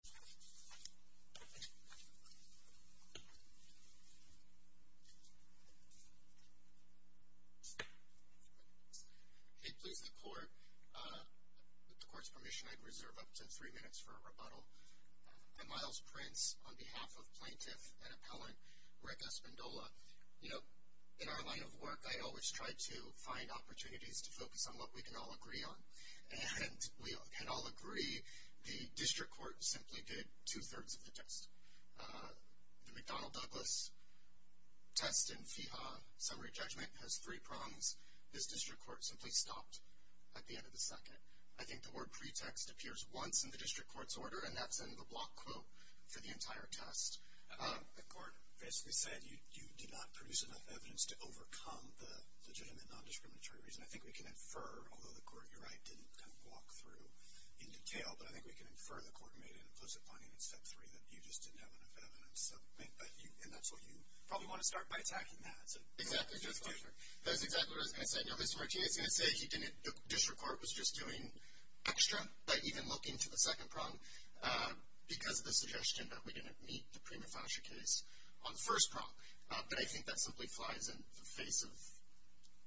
The Court's permission, I'd reserve up to three minutes for a rebuttal. I'm Miles Prince on behalf of Plaintiff and Appellant Rick Espindola. You know, in our line of work, I always try to find opportunities to focus on what we can all agree on. And we can all agree the District Court simply did two-thirds of the test. The McDonnell-Douglas test in FEHA summary judgment has three prongs. This District Court simply stopped at the end of the second. I think the word pretext appears once in the District Court's order, and that's in the block quote for the entire test. The Court basically said you did not produce enough evidence to overcome the legitimate nondiscriminatory reason. I think we can infer, although the Court, you're right, didn't kind of walk through in detail, but I think we can infer the Court made an implicit finding in step three that you just didn't have enough evidence. So, and that's what you probably want to start by attacking that. So, it's just different. That's exactly what I was going to say. Now, Mr. Martinez is going to say he didn't, the District Court was just doing extra by even looking to the second prong because of the suggestion that we didn't meet the prima facie case on the first prong. But I think that simply flies in the face of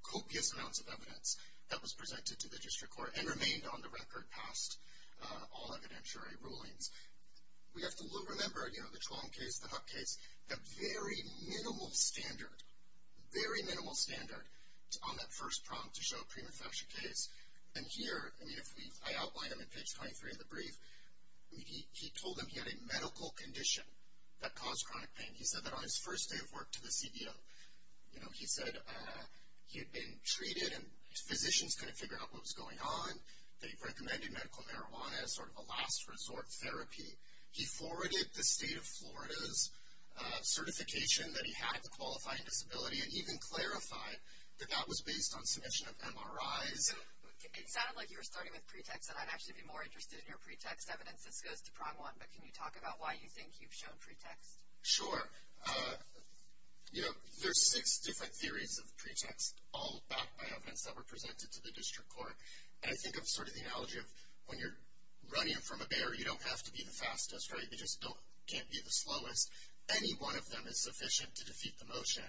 copious amounts of evidence that was presented to the District Court and remained on the record past all evidentiary rulings. We have to remember, you know, the Truong case, the Huck case, a very minimal standard, very minimal standard on that first prong to show a prima facie case. And here, I mean, if we, I outline them in page 23 of the brief. He told them he had a medical condition that caused chronic pain. He said that on his first day of work to the CBO, you know, he said he had been treated and physicians couldn't figure out what was going on. They recommended medical marijuana as sort of a last resort therapy. He forwarded the state of Florida's certification that he had a qualifying disability and even clarified that that was based on submission of MRIs. So, it sounded like you were starting with pretext and I'd actually be more interested in your pretext evidence. This goes to prong one, but can you talk about why you think you've shown pretext? Sure. You know, there's six different theories of pretext all backed by evidence that were presented to the district court. And I think of sort of the analogy of when you're running from a bear, you don't have to be the fastest, right? You just don't, can't be the slowest. Any one of them is sufficient to defeat the motion.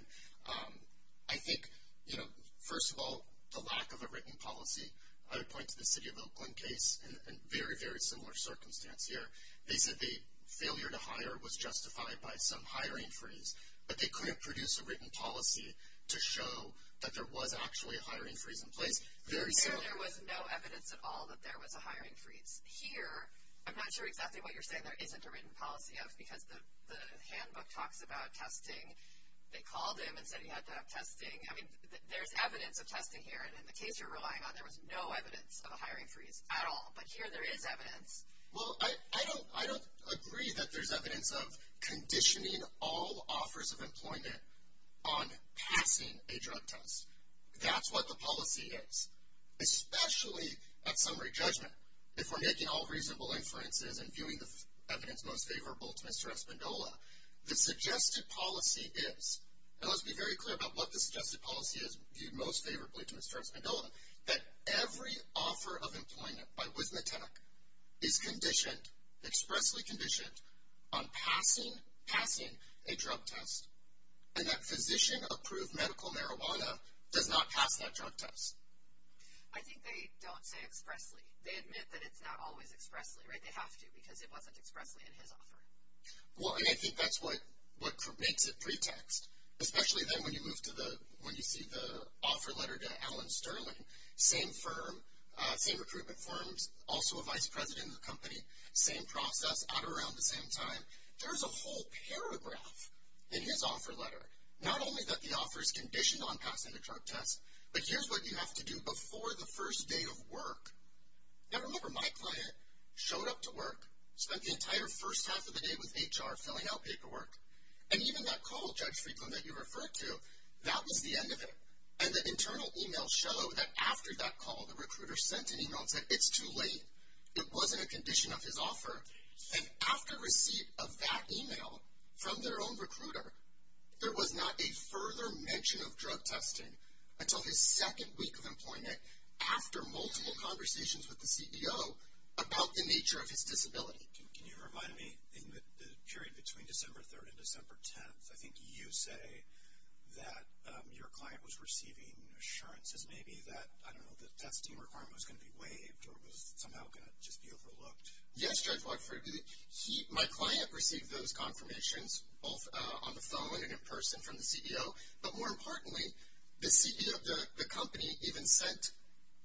I think, you know, first of all, the lack of a written policy. I would point to the city of Oakland case and very, very similar circumstance here. They said the failure to hire was justified by some hiring freeze, but they couldn't produce a written policy to show that there was actually a hiring freeze in place. Very similar. There was no evidence at all that there was a hiring freeze. Here, I'm not sure exactly what you're saying there isn't a written policy of, because the handbook talks about testing. They called him and said he had to have testing. I mean, there's evidence of testing here. And in the case you're relying on, there was no evidence of a hiring freeze at all. But here, there is evidence. Well, I don't, I don't agree that there's evidence of conditioning all offers of employment on passing a drug test. That's what the policy is. Especially at summary judgment, if we're making all reasonable inferences and viewing the evidence most favorable to Mr. Espindola, the suggested policy is, and let's be very clear about what the suggested policy is viewed most favorably to Mr. Espindola, that every offer of employment by Wismitech is conditioned, expressly conditioned, on passing, passing a drug test. And that physician approved medical marijuana does not pass that drug test. I think they don't say expressly. They admit that it's not always expressly, right? They have to, because it wasn't expressly in his offer. Well, and I think that's what, what makes it pretext. Especially then when you move to the, when you see the offer letter to Alan Sterling, same firm, same recruitment forms, also a vice president of the company, same process, out around the same time. There's a whole paragraph in his offer letter, not only that the offer is conditioned on passing the drug test, but here's what you have to do before the first day of work. Now, remember my client showed up to work, spent the entire first half of the day with HR filling out paperwork, and even that call, Judge Freedman, that you referred to, that was the end of it, and the internal emails show that after that call, the recruiter sent an email and said, it's too late. It wasn't a condition of his offer, and after receipt of that email from their own recruiter, there was not a further mention of drug testing until his second week of employment, after multiple conversations with the CEO about the nature of his disability. Can you remind me, in the period between December 3rd and December 10th, I think you say that your client was receiving assurances, maybe, that, I don't know, the testing requirement was going to be waived, or it was somehow going to just be overlooked. Yes, Judge Lockford, he, my client received those confirmations, both on the phone and in person from the CEO, but more importantly, the CEO of the company even sent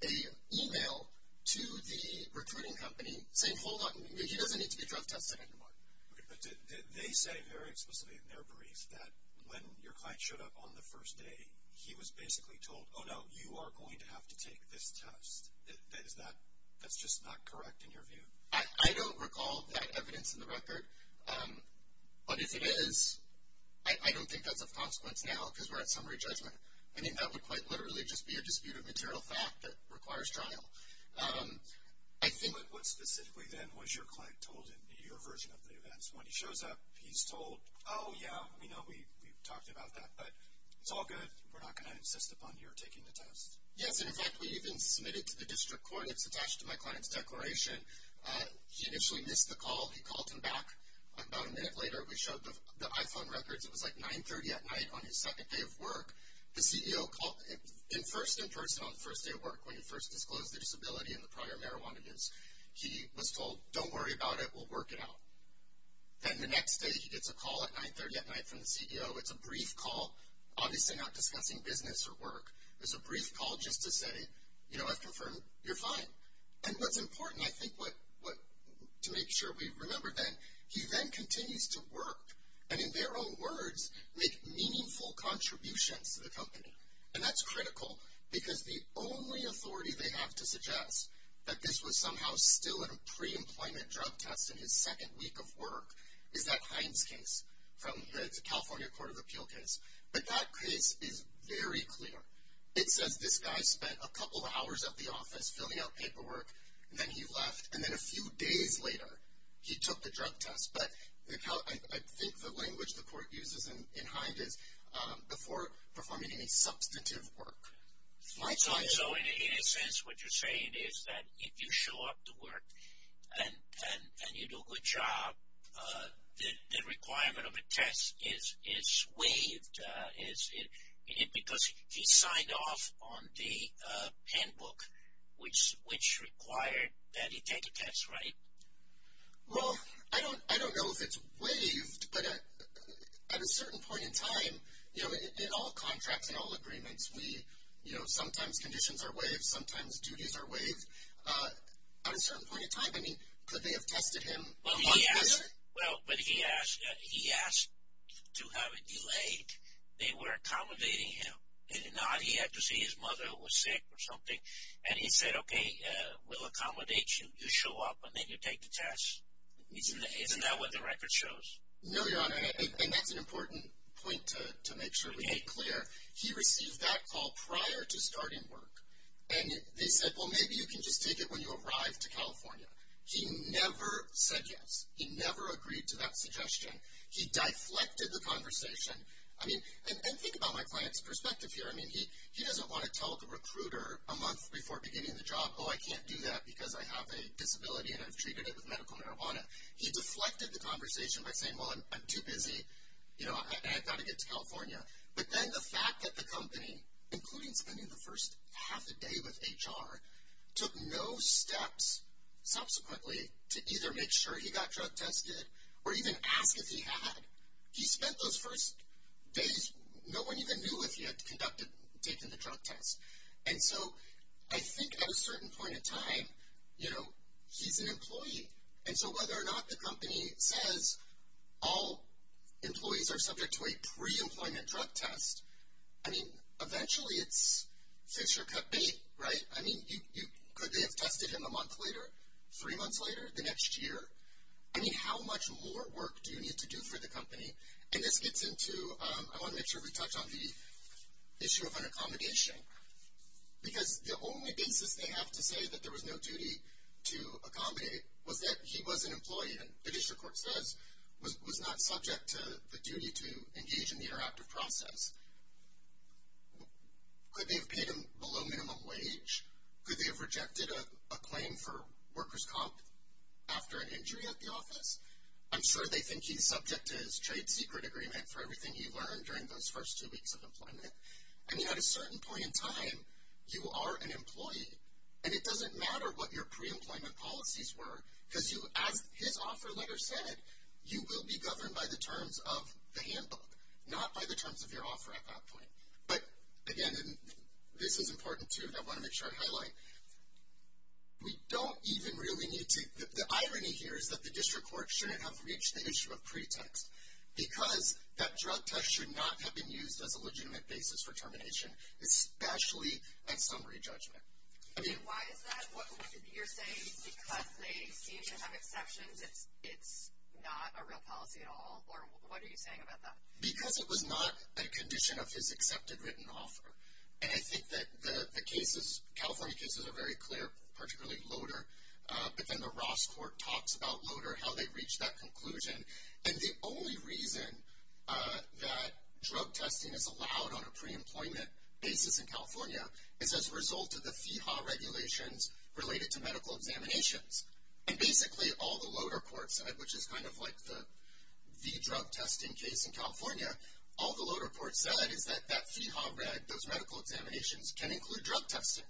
an email to the recruiting company saying, hold on, he doesn't need to be drug tested anymore. Okay, but did, they say very explicitly in their briefs that when your client showed up on the first day, he was basically told, oh no, you are going to have to take this test. Is that, that's just not correct, in your view? I don't recall that evidence in the record, but if it is, I don't think that's of consequence now, because we're at summary judgment. I mean, that would quite literally just be a disputed material fact that requires trial. I think. But what specifically, then, was your client told in your version of the events? When he shows up, he's told, oh yeah, you know, we've talked about that, but it's all good. We're not going to insist upon your taking the test. Yes, and in fact, we even submitted to the district court, it's attached to my client's declaration. He initially missed the call. He called him back about a minute later. We showed the iPhone records. It was like 930 at night on his second day of work. The CEO called, in first in person on the first day of work, when he first disclosed the disability and the prior marijuana use. He was told, don't worry about it. We'll work it out. Then, the next day, he gets a call at 930 at night from the CEO. It's a brief call, obviously not discussing business or work. It's a brief call just to say, you know, I've confirmed you're fine. And what's important, I think, to make sure we remember, then, he then continues to work, and in their own words, make meaningful contributions to the company. And that's critical, because the only authority they have to suggest that this was somehow still in a pre-employment drug test in his second week of work is that Hines case from the California Court of Appeal case. But that case is very clear. It says this guy spent a couple of hours at the office filling out paperwork, and then he left. And then, a few days later, he took the drug test. But I think the language the court uses in Hines is before performing any substantive work. My time is over. In a sense, what you're saying is that if you show up to work, and you do a good job, the requirement of a test is waived, because he signed off on the handbook, which required that he take a test, right? Well, I don't know if it's waived, but at a certain point in time, you know, in all contracts, in all agreements, we, you know, sometimes conditions are waived. Sometimes duties are waived. At a certain point in time, I mean, could they have tested him on purpose? Well, but he asked to have it delayed. They were accommodating him. And not, he had to see his mother who was sick or something. And he said, okay, we'll accommodate you. You show up, and then you take the test. Isn't that what the record shows? No, Your Honor, and that's an important point to make sure we make clear. He received that call prior to starting work. And they said, well, maybe you can just take it when you arrive to California. He never said yes. He never agreed to that suggestion. He deflected the conversation. I mean, and think about my client's perspective here. I mean, he doesn't want to tell the recruiter a month before beginning the job, oh, I can't do that because I have a disability, and I've treated it with medical marijuana. He deflected the conversation by saying, well, I'm too busy. You know, I've got to get to California. But then the fact that the company, including spending the first half a day with HR, took no steps subsequently to either make sure he got drug tested or even ask if he had. He spent those first days, no one even knew if he had conducted, taken the drug test. And so, I think at a certain point in time, you know, he's an employee. And so, whether or not the company says all employees are subject to a pre-employment drug test, I mean, eventually it's fix or cut bait, right? I mean, you, could they have tested him a month later, three months later, the next year? I mean, how much more work do you need to do for the company? And this gets into, I want to make sure we touched on the issue of an accommodation. Because the only basis they have to say that there was no duty to accommodate was that he was an employee, and the district court says was not subject to the duty to engage in the interactive process. Could they have paid him below minimum wage? Could they have rejected a claim for worker's comp after an injury at the office? I'm sure they think he's subject to his trade secret agreement for everything he learned during those first two weeks of employment. I mean, at a certain point in time, you are an employee, and it doesn't matter what your pre-employment policies were. Because you, as his offer letter said, you will be governed by the terms of the handbook, not by the terms of your offer at that point. But again, this is important too, and I want to make sure I highlight. We don't even really need to, the irony here is that the district court shouldn't have reached the issue of pretext. Because that drug test should not have been used as a legitimate basis for termination, especially at summary judgment. I mean. Why is that? What you're saying is because they seem to have exceptions, it's not a real policy at all? Or what are you saying about that? Because it was not a condition of his accepted written offer. And I think that the cases, California cases are very clear, particularly Loder. But then the Ross court talks about Loder, how they reached that conclusion. And the only reason that drug testing is allowed on a pre-employment basis in California is as a result of the FEHA regulations related to medical examinations. And basically, all the Loder courts, which is kind of like the drug testing case in California, all the Loder courts said is that that FEHA, those medical examinations can include drug testing.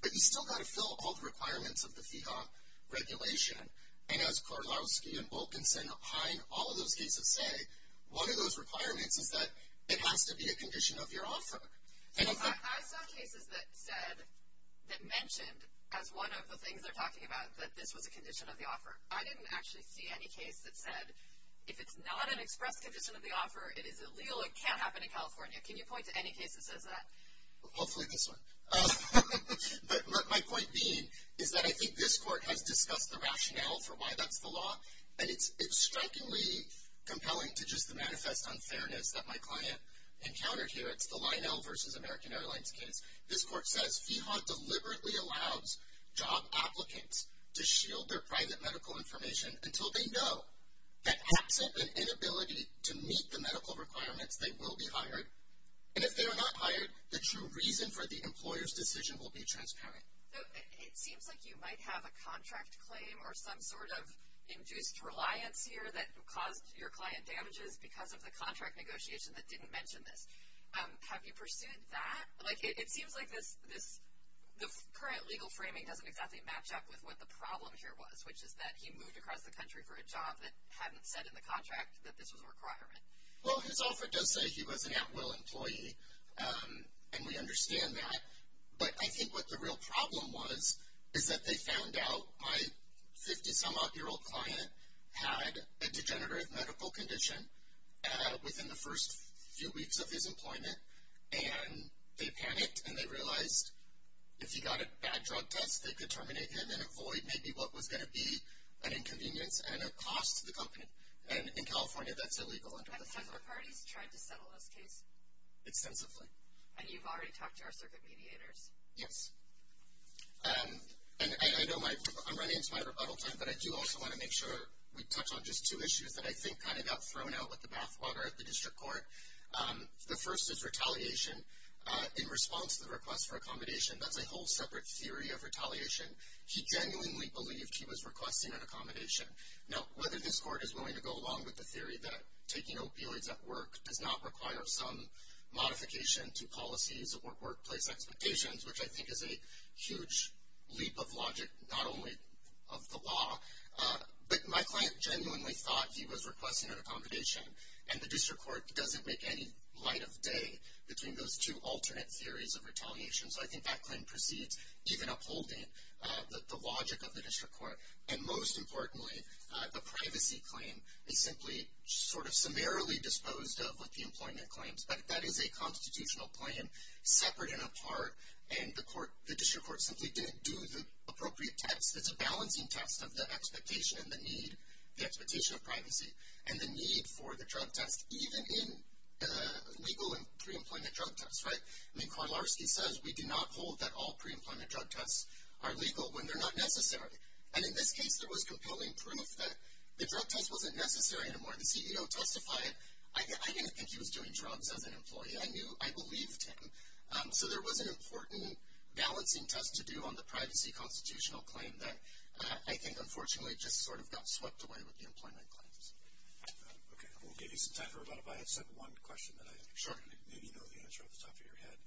But you still got to fill all the requirements of the FEHA regulation. And as Korolowski and Wilkinson, Hine, all of those cases say, one of those requirements is that it has to be a condition of your offer. And if the. I saw cases that said, that mentioned as one of the things they're talking about that this was a condition of the offer. I didn't actually see any case that said, if it's not an express condition of the offer, it is illegal, it can't happen in California. Can you point to any case that says that? Hopefully this one. But my point being is that I think this court has discussed the rationale for why that's the law. And it's strikingly compelling to just the manifest unfairness that my client encountered here. It's the Lionel versus American Airlines case. This court says, FEHA deliberately allows job applicants to shield their private medical information until they know that absent an inability to meet the medical requirements, they will be hired. And if they are not hired, the true reason for the employer's decision will be transparent. So, it seems like you might have a contract claim or some sort of induced reliance here that caused your client damages because of the contract negotiation that didn't mention this. Have you pursued that? Like, it seems like this, the current legal framing doesn't exactly match up with what the problem here was, which is that he moved across the country for a job that hadn't said in the contract that this was a requirement. Well, his offer does say he was an at-will employee, and we understand that. But I think what the real problem was is that they found out my 50-some-odd-year-old client had a degenerative medical condition within the first few weeks of his employment. And they panicked, and they realized if he got a bad drug test, they could terminate him and avoid maybe what was going to be an inconvenience and a cost to the company. And in California, that's illegal under the federal law. Have the federal parties tried to settle this case? Extensively. And you've already talked to our circuit mediators? Yes. And I know I'm running into my rebuttal time, but I do also want to make sure we touch on just two issues that I think kind of got thrown out with the bathwater at the district court. The first is retaliation in response to the request for accommodation. That's a whole separate theory of retaliation. He genuinely believed he was requesting an accommodation. Now, whether this court is willing to go along with the theory that taking opioids at work does not require some modification to policies or workplace expectations, which I think is a huge leap of logic, not only of the law. But my client genuinely thought he was requesting an accommodation, and the district court doesn't make any light of day between those two alternate theories of retaliation, so I think that claim proceeds even upholding the logic of the district court. And most importantly, the privacy claim is simply sort of summarily disposed of with the employment claims, but that is a constitutional plan, separate and apart, and the district court simply didn't do the appropriate test that's a balancing test of the expectation and the need, the expectation of privacy, and the need for the drug test, even in legal and pre-employment drug tests, right? I mean, Karlarski says we do not hold that all pre-employment drug tests are legal when they're not necessary. And in this case, there was compelling proof that the drug test wasn't necessary anymore. The CEO testified, I didn't think he was doing drugs as an employee. I knew, I believed him. So there was an important balancing test to do on the privacy constitutional claim that I think unfortunately just sort of got swept away with the employment claims. Okay, we'll give you some time for a lot of, I have just one question that I think maybe you know the answer off the top of your head.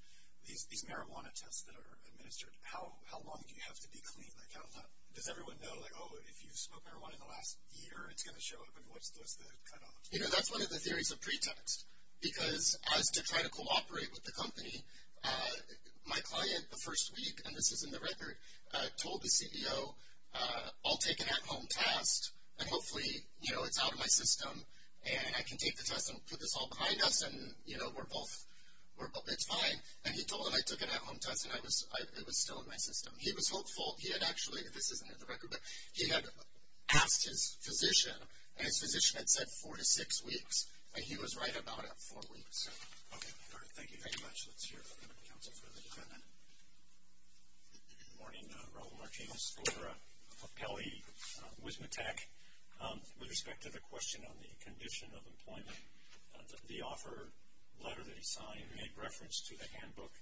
These marijuana tests that are administered, how long do you have to be clean? Like how long, does everyone know like, oh, if you smoke marijuana in the last year, it's going to show up and what's the cutoff? You know, that's one of the theories of pre-test because as to try to cooperate with the company, my client the first week, and this is in the record, told the CEO, I'll take an at-home test and hopefully, you know, it's out of my system and I can take the test and put this all behind us and, you know, we're both, it's fine. And he told him I took an at-home test and I was, it was still in my system. He was hopeful, he had actually, this isn't in the record, but he had asked his physician and his physician had said four to six weeks and he was right about it, four weeks. Okay, all right, thank you very much. Let's hear from the council for the defendant. Good morning, Raul Martinez, author of Peli Wismitech, with respect to the question on the condition of employment, the offer letter that he signed made reference to the handbook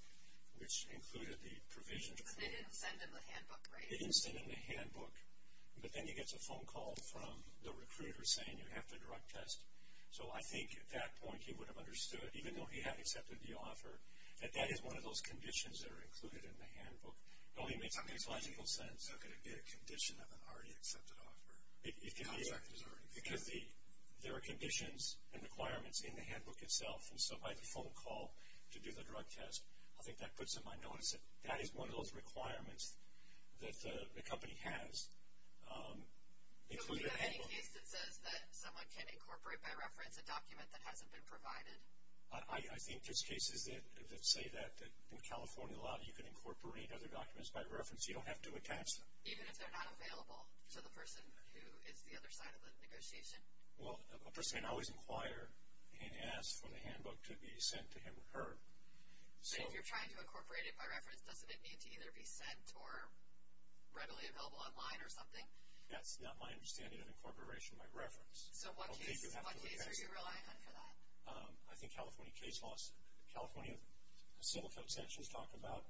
which included the provision. They didn't send him the handbook, right? They didn't send him the handbook, but then he gets a phone call from the recruiter saying you have to drug test. So I think at that point he would have understood, even though he had accepted the offer, that that is one of those conditions that are included in the handbook. It only makes logical sense. How could it be a condition of an already accepted offer? Because there are conditions and requirements in the handbook itself and so by the phone call to do the drug test, I think that puts him on notice that that is one of those requirements that the company has. Included in the handbook. So is there any case that says that someone can incorporate by reference a document that hasn't been provided? I think there's cases that say that in California law you can incorporate other documents by reference, you don't have to attach them. Even if they're not available to the person who is the other side of the negotiation? Well, a person can always inquire and ask for the handbook to be sent to him or her. So if you're trying to incorporate it by reference, doesn't it need to either be sent or readily available online or something? That's not my understanding of incorporation by reference. So what case are you relying on for that? I think California case laws, California civil code sanctions talk about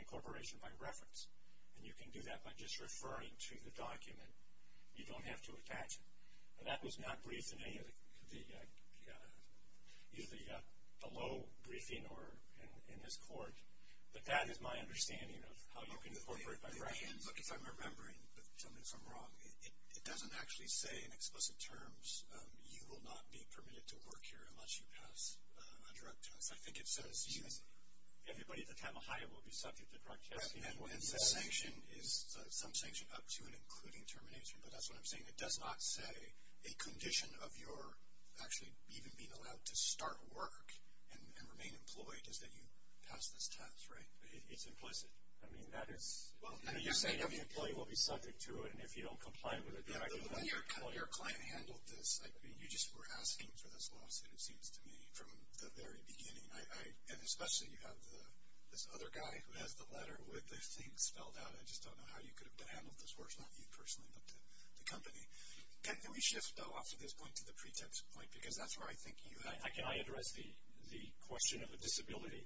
incorporation by reference. And you can do that by just referring to the document. You don't have to attach it. And that was not briefed in any of the, either the low briefing or in this court. But that is my understanding of how you can incorporate by reference. Look, if I'm remembering, but tell me if I'm wrong, it doesn't actually say in explicit terms, you will not be permitted to work here unless you pass a drug test. I think it says to use it. Everybody at the time of hire will be subject to drug testing. Right, and the sanction is, some sanction up to and including termination. But that's what I'm saying. It does not say a condition of your actually even being allowed to start work and remain employed is that you pass this test, right? It's implicit. I mean, that is, you're saying every employee will be subject to it and if you don't comply with it, then I can't employ you. When your client handled this, you just were asking for this lawsuit, it seems to me, from the very beginning. And especially you have this other guy who has the letter with the thing spelled out. I just don't know how you could have handled this. Of course, not you personally, but the company. Can we shift, though, off to this point to the pretext point? Because that's where I think you have. Can I address the question of a disability?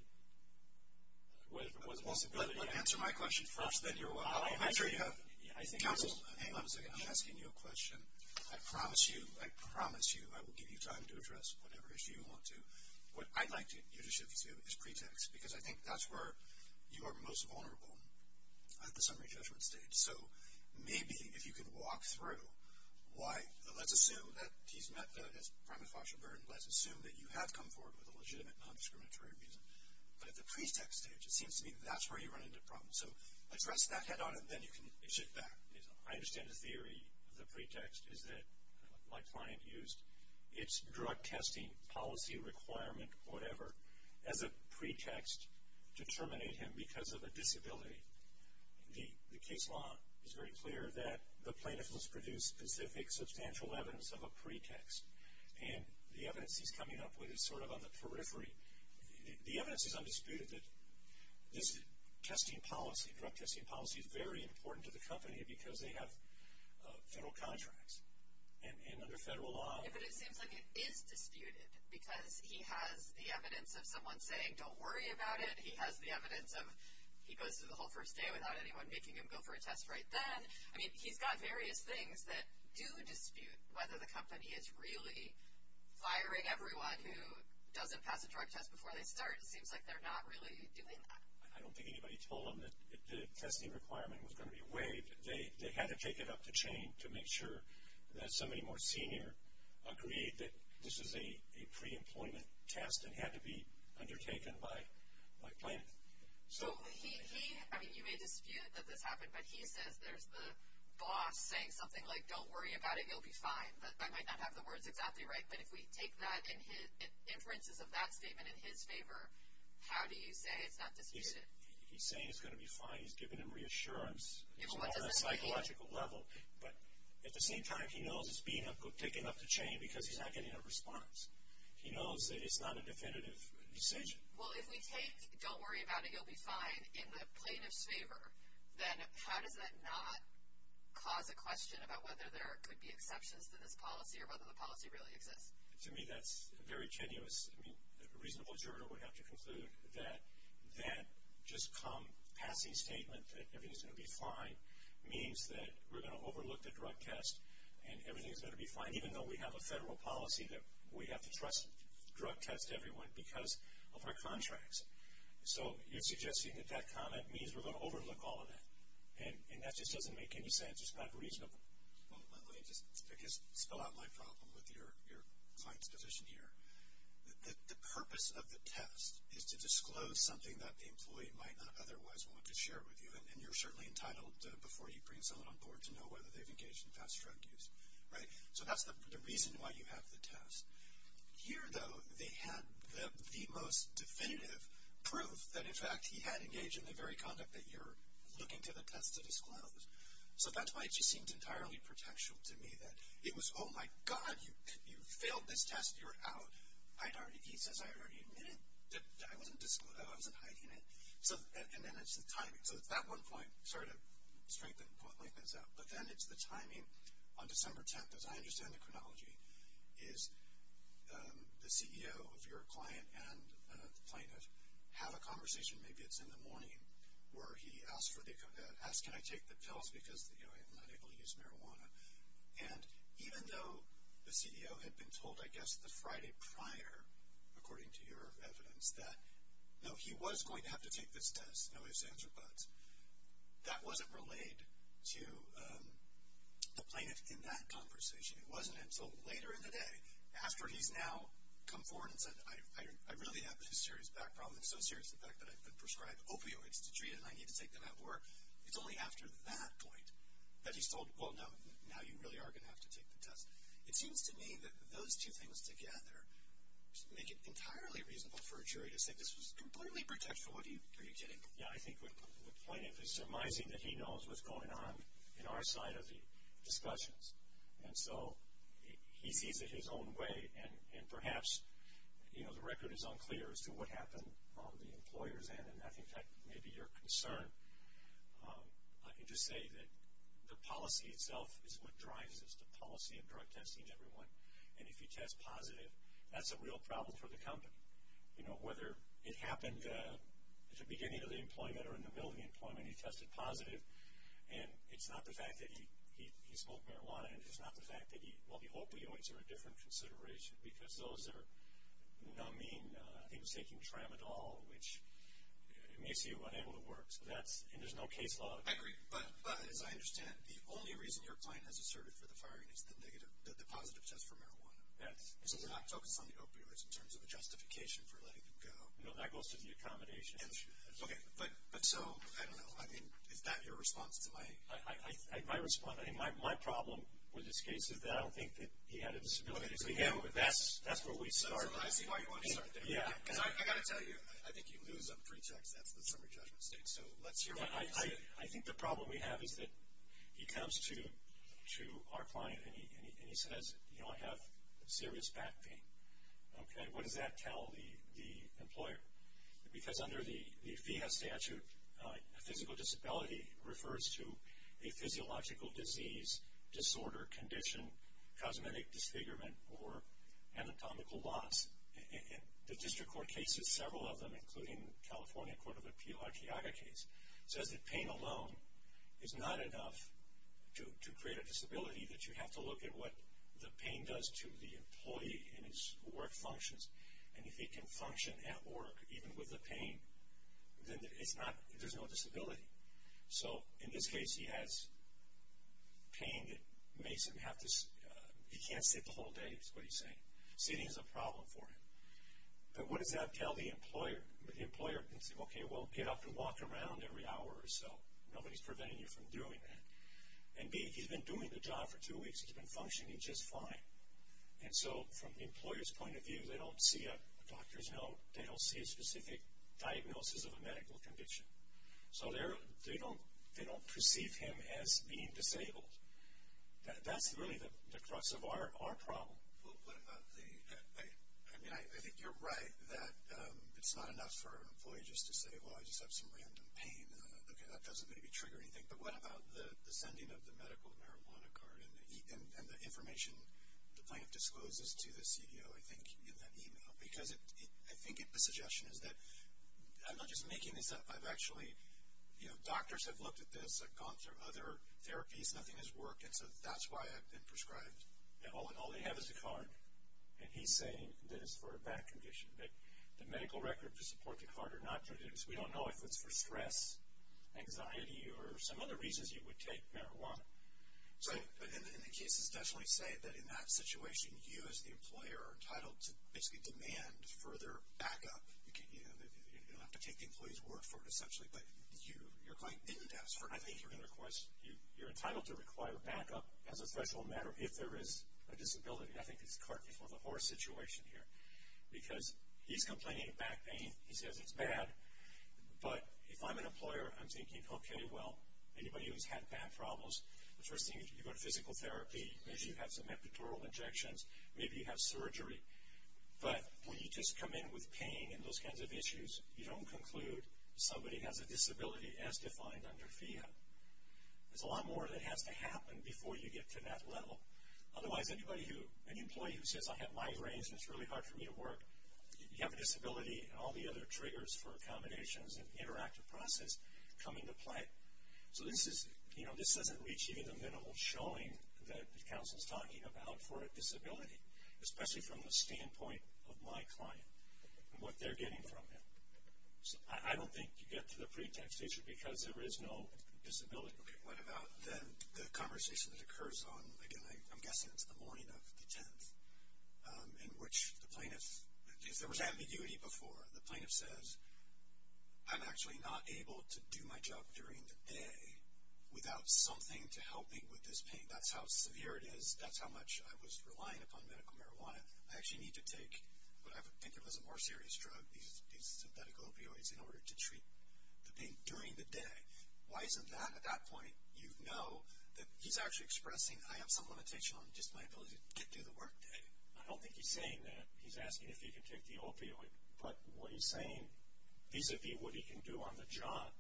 Whether it was a possibility. Answer my question first, then you're welcome. I'm sure you have counsel. Hang on a second. I'm asking you a question. I promise you, I promise you, I will give you time to address whatever issue you want to. What I'd like you to shift to is pretext. Because I think that's where you are most vulnerable at the summary judgment stage. So, maybe, if you could walk through why, let's assume that he's met the primate foster burden. Let's assume that you have come forward with a legitimate non-discriminatory reason. But at the pretext stage, it seems to me that's where you run into problems. So, address that head on, and then you can shift back. I understand the theory of the pretext is that, like my client used, it's drug testing policy requirement, whatever, as a pretext to terminate him because of a disability. The case law is very clear that the plaintiff must produce specific substantial evidence of a pretext, and the evidence he's coming up with is sort of on the periphery. The evidence is undisputed that this testing policy, drug testing policy, is very important to the company because they have federal contracts. And under federal law. But it seems like it is disputed because he has the evidence of someone saying don't worry about it. He has the evidence of he goes through the whole first day without anyone making him go for a test right then. I mean, he's got various things that do dispute whether the company is really firing everyone who doesn't pass a drug test before they start. It seems like they're not really doing that. I don't think anybody told them that the testing requirement was going to be waived. They had to take it up the chain to make sure that somebody more senior agreed that this is a pre-employment test and had to be undertaken by plaintiff. So he, I mean, you may dispute that this happened, but he says there's the boss saying something like don't worry about it, you'll be fine. But I might not have the words exactly right, but if we take that and inferences of that statement in his favor, how do you say it's not disputed? He's saying it's going to be fine. He's giving him reassurance. It's more on a psychological level. But at the same time, he knows it's being taken up the chain because he's not getting a response. He knows that it's not a definitive decision. Well, if we take don't worry about it, you'll be fine in the plaintiff's favor, then how does that not cause a question about whether there could be exceptions to this policy or whether the policy really exists? To me, that's very tenuous. I mean, a reasonable observer would have to conclude that that just come passing statement that everything's going to be fine means that we're going to overlook the drug test and everything's going to be fine, even though we have a federal policy that we have to trust drug tests to everyone because of our contracts. So, you're suggesting that that comment means we're going to overlook all of that. And that just doesn't make any sense. It's not reasonable. Well, let me just, I guess, spell out my problem with your client's position here. The purpose of the test is to disclose something that the employee might not otherwise want to share with you. And you're certainly entitled, before you bring someone on board, to know whether they've engaged in fast drug use, right? So, that's the reason why you have the test. Here, though, they had the most definitive proof that, in fact, he had engaged in the very conduct that you're looking to the test to disclose. So, that's why it just seemed entirely pretentious to me that it was, oh my God, you failed this test, you're out. I'd already, he says, I'd already admitted that I wasn't hiding it. So, and then it's the timing. So, at that one point, sorry to lengthen this out, but then it's the timing on December 10th, as I understand the chronology, is the CEO of your client and the plaintiff have a conversation, maybe it's in the morning, where he asks, can I take the pills because, you know, I'm not able to use marijuana. And even though the CEO had been told, I guess, the Friday prior, according to your evidence, that, no, he was going to have to take this test, no ifs, ands, or buts, that wasn't relayed to the plaintiff in that conversation. It wasn't until later in the day, after he's now come forward and said, I really have this serious back problem. It's so serious, in fact, that I've been prescribed opioids to treat it and I need to take them at work. It's only after that point that he's told, well, now you really are going to have to take the test. It seems to me that those two things together make it entirely reasonable for a jury to say this was completely predictable. Are you kidding? Yeah, I think what the plaintiff is surmising that he knows what's going on in our side of the discussions. And so, he sees it his own way and perhaps, you know, the record is unclear as to what happened on the employer's end and I think that may be your concern. I can just say that the policy itself is what drives this, the policy of drug testing in everyone. And if you test positive, that's a real problem for the company. You know, whether it happened at the beginning of the employment or in the middle of the employment, he tested positive and it's not the fact that he smoked marijuana and it's not the fact that he, well, the opioids are a different consideration because those are numbing, I think it's taking tramadol, which makes you unable to work. So, that's, and there's no case law. I agree, but as I understand, the only reason your client has asserted for the firing is the negative, the positive test for marijuana. That's, yeah. So, they're not focused on the opioids in terms of a justification for letting them go. No, that goes to the accommodation issue. Okay, but so, I don't know. I mean, is that your response to my? I respond, I mean, my problem with this case is that I don't think that he had a disability to begin with. That's where we start. I see why you want to start there. Yeah. Because I've got to tell you, I think you lose on pretext. That's the summary judgment state. So, let's hear what you say. I think the problem we have is that he comes to our client and he says, you know, I have serious back pain. Okay, what does that tell the employer? Because under the FIIA statute, a physical disability refers to a physiological disease, disorder, condition, cosmetic disfigurement, or anatomical loss. And the district court cases, several of them, including California Court of Appeal, Archeaga case, says that pain alone is not enough to create a disability, that you have to look at what the pain does to the employee and his work functions. And if he can function at work, even with the pain, then it's not, there's no disability. So, in this case, he has pain that makes him have to, he can't sit the whole day, is what he's saying. Sitting is a problem for him. But what does that tell the employer? The employer can say, okay, well, get up and walk around every hour or so. Nobody's preventing you from doing that. And B, he's been doing the job for two weeks. He's been functioning just fine. And so, from the employer's point of view, they don't see a doctor's note. They don't see a specific diagnosis of a medical condition. So, they don't perceive him as being disabled. That's really the crux of our problem. Well, what about the, I mean, I think you're right that it's not enough for an employee just to say, well, I just have some random pain. Okay, that doesn't maybe trigger anything. But what about the sending of the medical marijuana card and the information the plaintiff discloses to the CEO, I think, in that email? Because I think the suggestion is that I'm not just making this up. I've actually, you know, doctors have looked at this. I've gone through other therapies. Nothing has worked. And so, that's why I've been prescribed. Yeah, all they have is a card. And he's saying that it's for a bad condition. That the medical record to support the card or not to do this, we don't know if it's for stress, anxiety, or some other reasons you would take marijuana. So, but in the cases, definitely say that in that situation, you as the employer are entitled to basically demand further backup. You know, you don't have to take the employee's word for it, essentially. But you're going in-depth. I think you're going to request, you're entitled to require backup as a threshold matter if there is a disability. I think it's a cart before the horse situation here. Because he's complaining of back pain. He says it's bad. But if I'm an employer, I'm thinking, okay, well, anybody who's had back problems, the first thing is you go to physical therapy. Maybe you have some epidural injections. Maybe you have surgery. But when you just come in with pain and those kinds of issues, you don't conclude somebody has a disability as defined under FIIA. There's a lot more that has to happen before you get to that level. Otherwise, anybody who, any employee who says I have migraines and it's really hard for me to work, you have a disability and all the other triggers for accommodations and interactive process come into play. So this is, you know, this doesn't reach even the minimal showing that the council's talking about for a disability, especially from the standpoint of my client and what they're getting from him. So I don't think you get to the pretext issue because there is no disability. Okay, what about the conversation that occurs on, again, I'm guessing it's the morning of the 10th in which the plaintiff, because there was ambiguity before, the plaintiff says, I'm actually not able to do my job during the day without something to help me with this pain. That's how severe it is. That's how much I was relying upon medical marijuana. I actually need to take what I think of as a more serious drug, these synthetic opioids, in order to treat the pain during the day. Why isn't that, at that point, you know that he's actually expressing I have some limitation on just my ability to get through the work day. I don't think he's saying that. He's asking if he can take the opioid. But what he's saying vis-a-vis what he can do on the job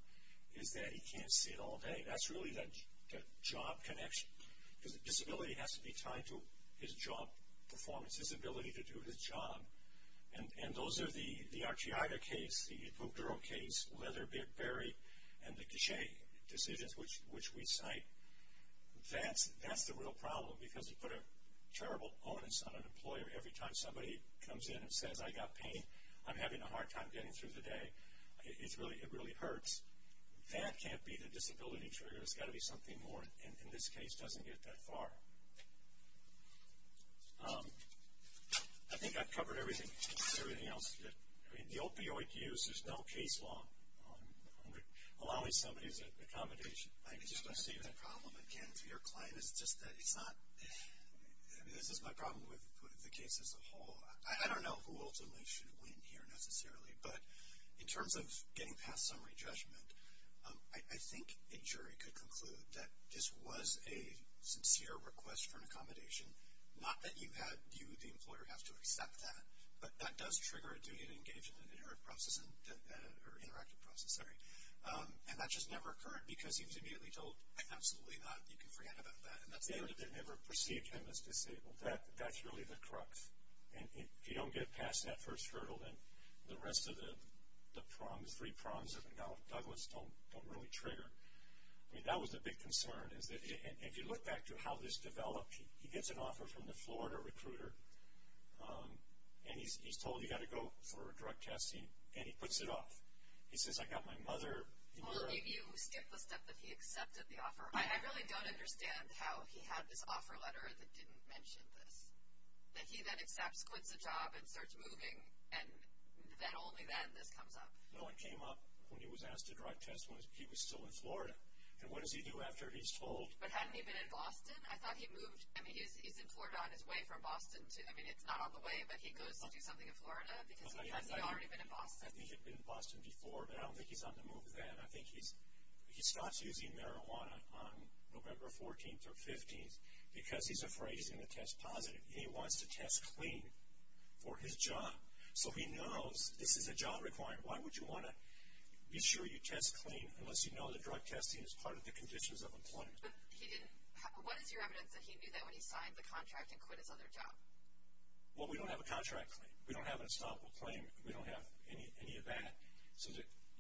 is that he can't sit all day. That's really the job connection. Because the disability has to be tied to his job performance, his ability to do his job. And those are the Archiaga case, the Buglero case, Leatherberry, and the Gichet decisions which we cite. That's the real problem because you put a terrible onus on an employer every time somebody comes in and says I've got pain, I'm having a hard time getting through the day, it really hurts. That can't be the disability trigger. It's got to be something more. And in this case, it doesn't get that far. I think I've covered everything else. The opioid use is now case law. I'm allowing somebody's accommodation. I'm just going to say the problem again to your client is just that it's not, this is my problem with the case as a whole. I don't know who ultimately should win here necessarily. But in terms of getting past summary judgment, I think a jury could conclude that this was a sincere request for an accommodation. Not that you, the employer, have to accept that. But that does trigger a duty to engage in an interactive process. And that just never occurred because he was immediately told absolutely not, you can forget about that. And that's the end of it. They never perceived him as disabled. That's really the crux. And if you don't get past that first hurdle, then the rest of the three prongs of the Nellis Douglas don't really trigger. I mean that was the big concern. And if you look back to how this developed, he gets an offer from the Florida recruiter and he's told he's got to go for a drug test and he puts it off. He says, I got my mother. And you're a. Well, if you skip the step that he accepted the offer. I really don't understand how he had this offer letter that didn't mention this. That he then accepts, quits the job and starts moving and then only then this comes up. No, it came up when he was asked to drug test when he was still in Florida. And what does he do after he's told. But hadn't he been in Boston? I thought he moved. I mean he's in Florida on his way from Boston to, I mean it's not on the way, but he goes to do something in Florida because he hasn't already been in Boston. I think he'd been in Boston before, but I don't think he's on the move then. I think he's, he stops using marijuana on November 14th or 15th because he's afraid he's going to test positive. And he wants to test clean for his job. So he knows this is a job requirement. Why would you want to be sure you test clean unless you know the drug testing is part of the conditions of employment. But he didn't, what is your evidence that he knew that when he signed the contract and quit his other job? Well, we don't have a contract claim. We don't have an estoppel claim. We don't have any of that. So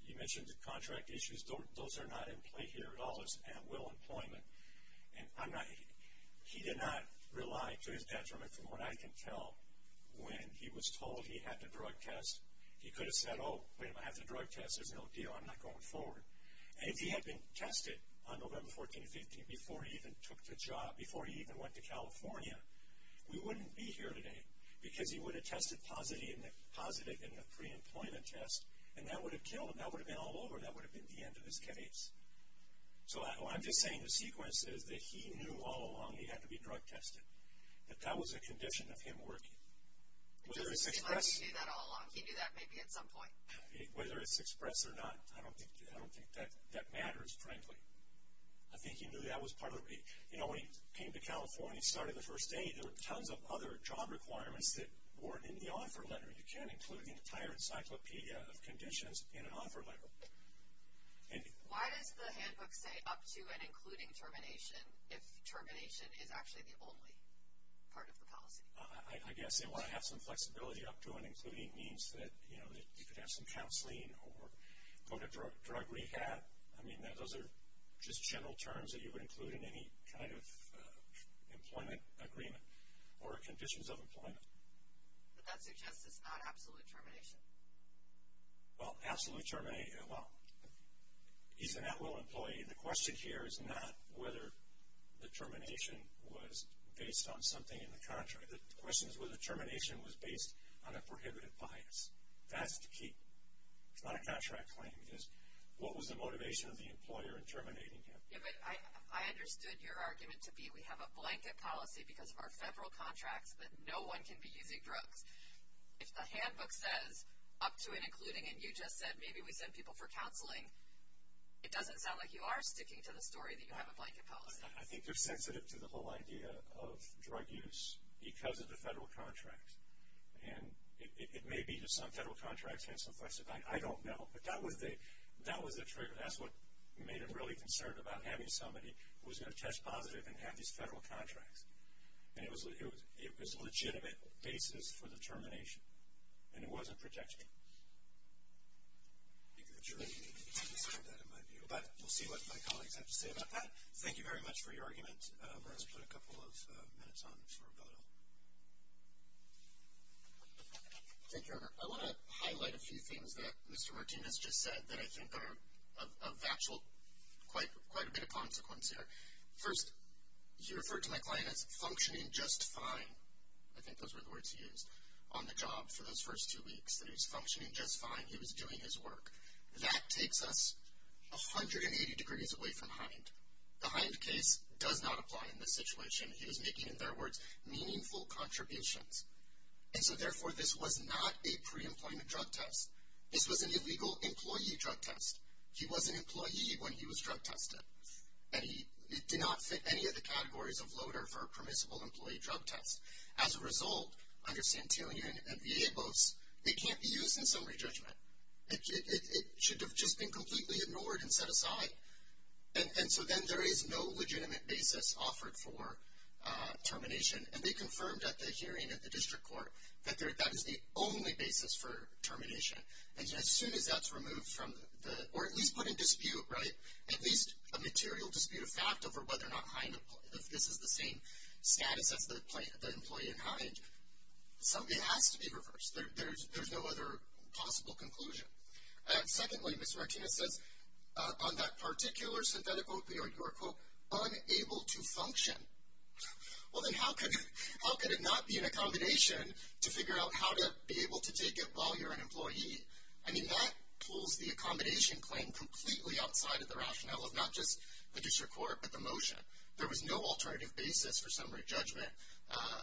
you mentioned the contract issues. Those are not in play here at all as will employment. And I'm not, he did not rely to his detriment from what I can tell when he was told he had to drug test. He could have said, oh, wait a minute, I have to drug test. There's no deal. I'm not going forward. And if he had been tested on November 14th and 15th before he even took the job, before he even went to California, we wouldn't be here today because he would have tested positive in the pre-employment test. And that would have killed him. That would have been all over. That would have been the end of his case. So I'm just saying the sequence is that he knew all along he had to be drug tested. That that was a condition of him working. Whether it's express. He knew that all along. He knew that maybe at some point. Whether it's express or not, I don't think that matters, frankly. I think he knew that was part of the, you know, when he came to California, when he started the first day, there were tons of other job requirements that weren't in the offer letter. You can't include the entire encyclopedia of conditions in an offer letter. And. Why does the handbook say up to and including termination if termination is actually the only part of the policy? I guess they want to have some flexibility up to and including means that, you know, that you could have some counseling or go to drug rehab. I mean, those are just general terms that you would include in any kind of employment agreement or conditions of employment. But that suggests it's not absolute termination. Well, absolute termination, well, he's an at-will employee. The question here is not whether the termination was based on something in the contract. The question is whether the termination was based on a prohibitive bias. That's the key. It's not a contract claim. It's what was the motivation of the employer in terminating him? Yeah, but I understood your argument to be we have a blanket policy because of our federal contracts that no one can be using drugs. If the handbook says up to and including, and you just said maybe we send people for counseling, it doesn't sound like you are sticking to the story that you have a blanket policy. I think they're sensitive to the whole idea of drug use because of the federal contract. And it may be that some federal contracts have some flexibility. I don't know. But that was the trigger. That's what made him really concerned about having somebody who was going to test positive and have these federal contracts. And it was a legitimate basis for the termination. And it wasn't protected. But we'll see what my colleagues have to say about that. Thank you very much for your argument. Let's put a couple of minutes on for rebuttal. Thank you, Ernier. I want to highlight a few things that Mr. Martinez just said that I think are of actual quite a bit of consequence here. First, he referred to my client as functioning just fine. I think those were the words he used on the job for those first two weeks. That he was functioning just fine. He was doing his work. That takes us 180 degrees away from Hind. The Hind case does not apply in this situation. He was making, in their words, meaningful contributions. And so, therefore, this was not a pre-employment drug test. This was an illegal employee drug test. He was an employee when he was drug tested. And it did not fit any of the categories of loader for a permissible employee drug test. As a result, under Santillan and Villalobos, it can't be used in summary judgment. It should have just been completely ignored and set aside. And so, then, there is no legitimate basis offered for termination. And they confirmed at the hearing at the district court that that is the only basis for termination. And as soon as that's removed from the, or at least put in dispute, right, at least a material dispute of fact over whether or not Hind, if this is the same status as the employee in Hind, something has to be reversed. There's no other possible conclusion. And secondly, Ms. Martinez says, on that particular synthetic opioid, you are, quote, unable to function. Well, then, how could it not be an accommodation to figure out how to be able to take it while you're an employee? I mean, that pulls the accommodation claim completely outside of the rationale of not just the district court, but the motion. There was no alternative basis for summary judgment,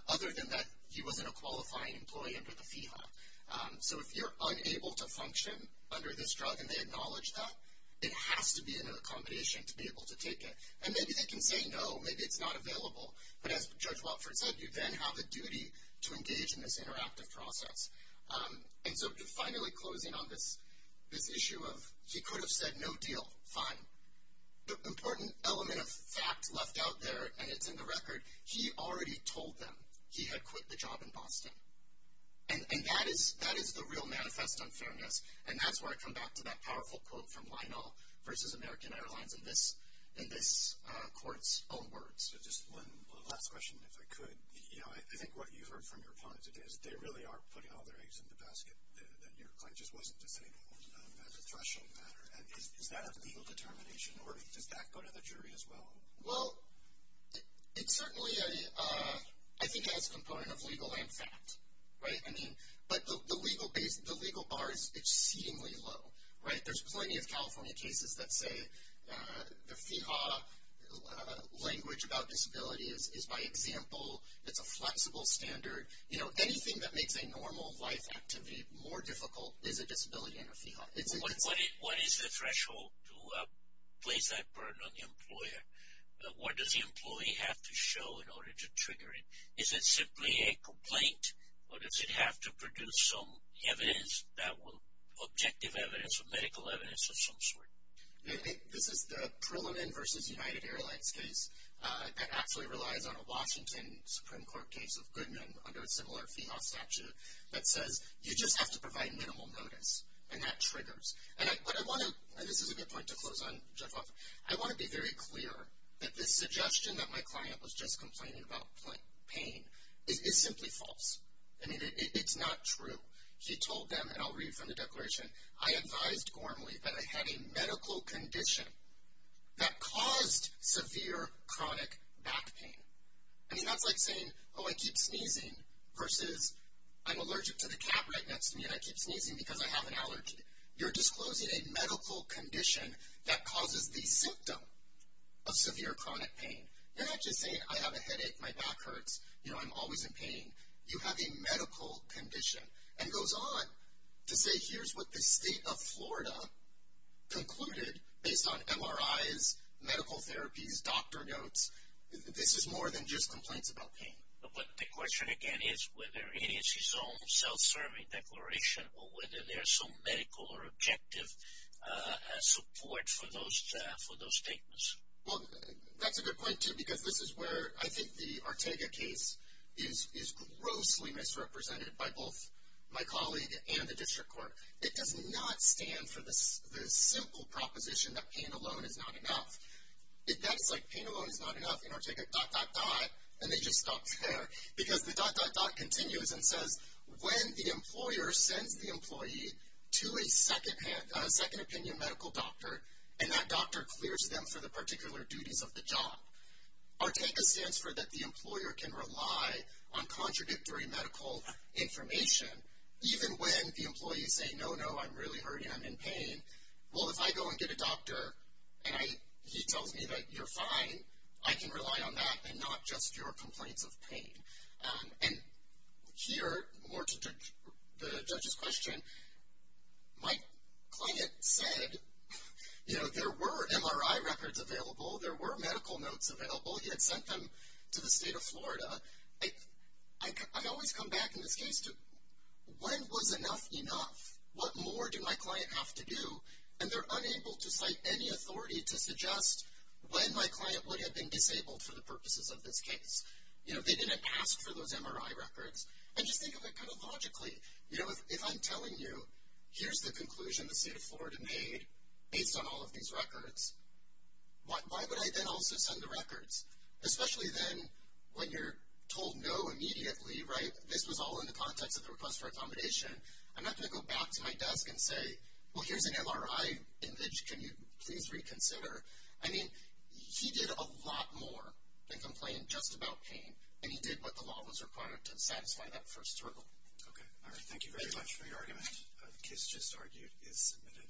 other than that he wasn't a qualifying employee under the FEHA. So, if you're unable to function under this drug and they acknowledge that, it has to be an accommodation to be able to take it. And maybe they can say no, maybe it's not available. But as Judge Watford said, you then have a duty to engage in this interactive process. And so, finally, closing on this issue of he could have said, no deal, fine. The important element of fact left out there, and it's in the record, he already told them. He had quit the job in Boston. And that is the real manifest unfairness. And that's where I come back to that powerful quote from Lionel versus American Airlines in this court's own words. So, just one last question, if I could. You know, I think what you heard from your opponent today is they really are putting all of their eggs in the basket that your client just wasn't disabled as a threshold matter. And is that a legal determination, or does that go to the jury as well? Well, it certainly, I think, has a component of legal and fact, right? I mean, but the legal base, the legal bar is exceedingly low, right? There's plenty of California cases that say the FIHA language about disability is by example, it's a flexible standard. You know, anything that makes a normal life activity more difficult is a disability What is the threshold to place that burden on the employer? What does the employee have to show in order to trigger it? Is it simply a complaint, or does it have to produce some evidence that will, objective evidence or medical evidence of some sort? This is the Perlin versus United Airlines case that actually relies on a Washington Supreme Court case of Goodman under a similar FIHA statute that says you just have to provide minimal notice, and that triggers. And I, but I want to, and this is a good point to close on, Judge Hoffman, I want to be very clear that this suggestion that my client was just complaining about pain is simply false. I mean, it's not true. She told them, and I'll read from the declaration, I advised Gormley that I had a medical condition that caused severe chronic back pain. I mean, that's like saying, oh, I keep sneezing versus I'm allergic to the cat right next to me, and I keep sneezing because I have an allergy. You're disclosing a medical condition that causes the symptom of severe chronic pain. You're not just saying, I have a headache, my back hurts, you know, I'm always in pain. You have a medical condition, and it goes on to say here's what the state of Florida concluded based on MRIs, medical therapies, doctor notes. This is more than just complaints about pain. But the question, again, is whether it is his own self-serving declaration or whether there's some medical or objective support for those statements. Well, that's a good point, too, because this is where I think the Ortega case is grossly misrepresented by both my colleague and the district court. It does not stand for the simple proposition that pain alone is not enough. It does, like pain alone is not enough in Ortega, dot, dot, dot, and they just stop there. Because the dot, dot, dot continues and says when the employer sends the employee to a second opinion medical doctor, and that doctor clears them for the particular duties of the job. Ortega stands for that the employer can rely on contradictory medical information even when the employees say, no, no, I'm really hurting, I'm in pain. Well, if I go and get a doctor and he tells me that you're fine, I can rely on that and not just your complaints of pain. And here, more to the judge's question, my client said, you know, there were MRI records available. There were medical notes available. He had sent them to the state of Florida. I always come back in this case to when was enough enough? What more do my client have to do? And they're unable to cite any authority to suggest when my client would have been disabled for the purposes of this case. You know, they didn't pass for those MRI records. And just think of it kind of logically. You know, if I'm telling you, here's the conclusion the state of Florida made based on all of these records, why would I then also send the records? Especially then when you're told no immediately, right? This was all in the context of the request for accommodation. I'm not going to go back to my desk and say, well, here's an MRI image. Can you please reconsider? I mean, he did a lot more than complain just about pain. And he did what the law was required to satisfy that first hurdle. Okay. All right. Thank you very much for your argument. The case just argued is submitted.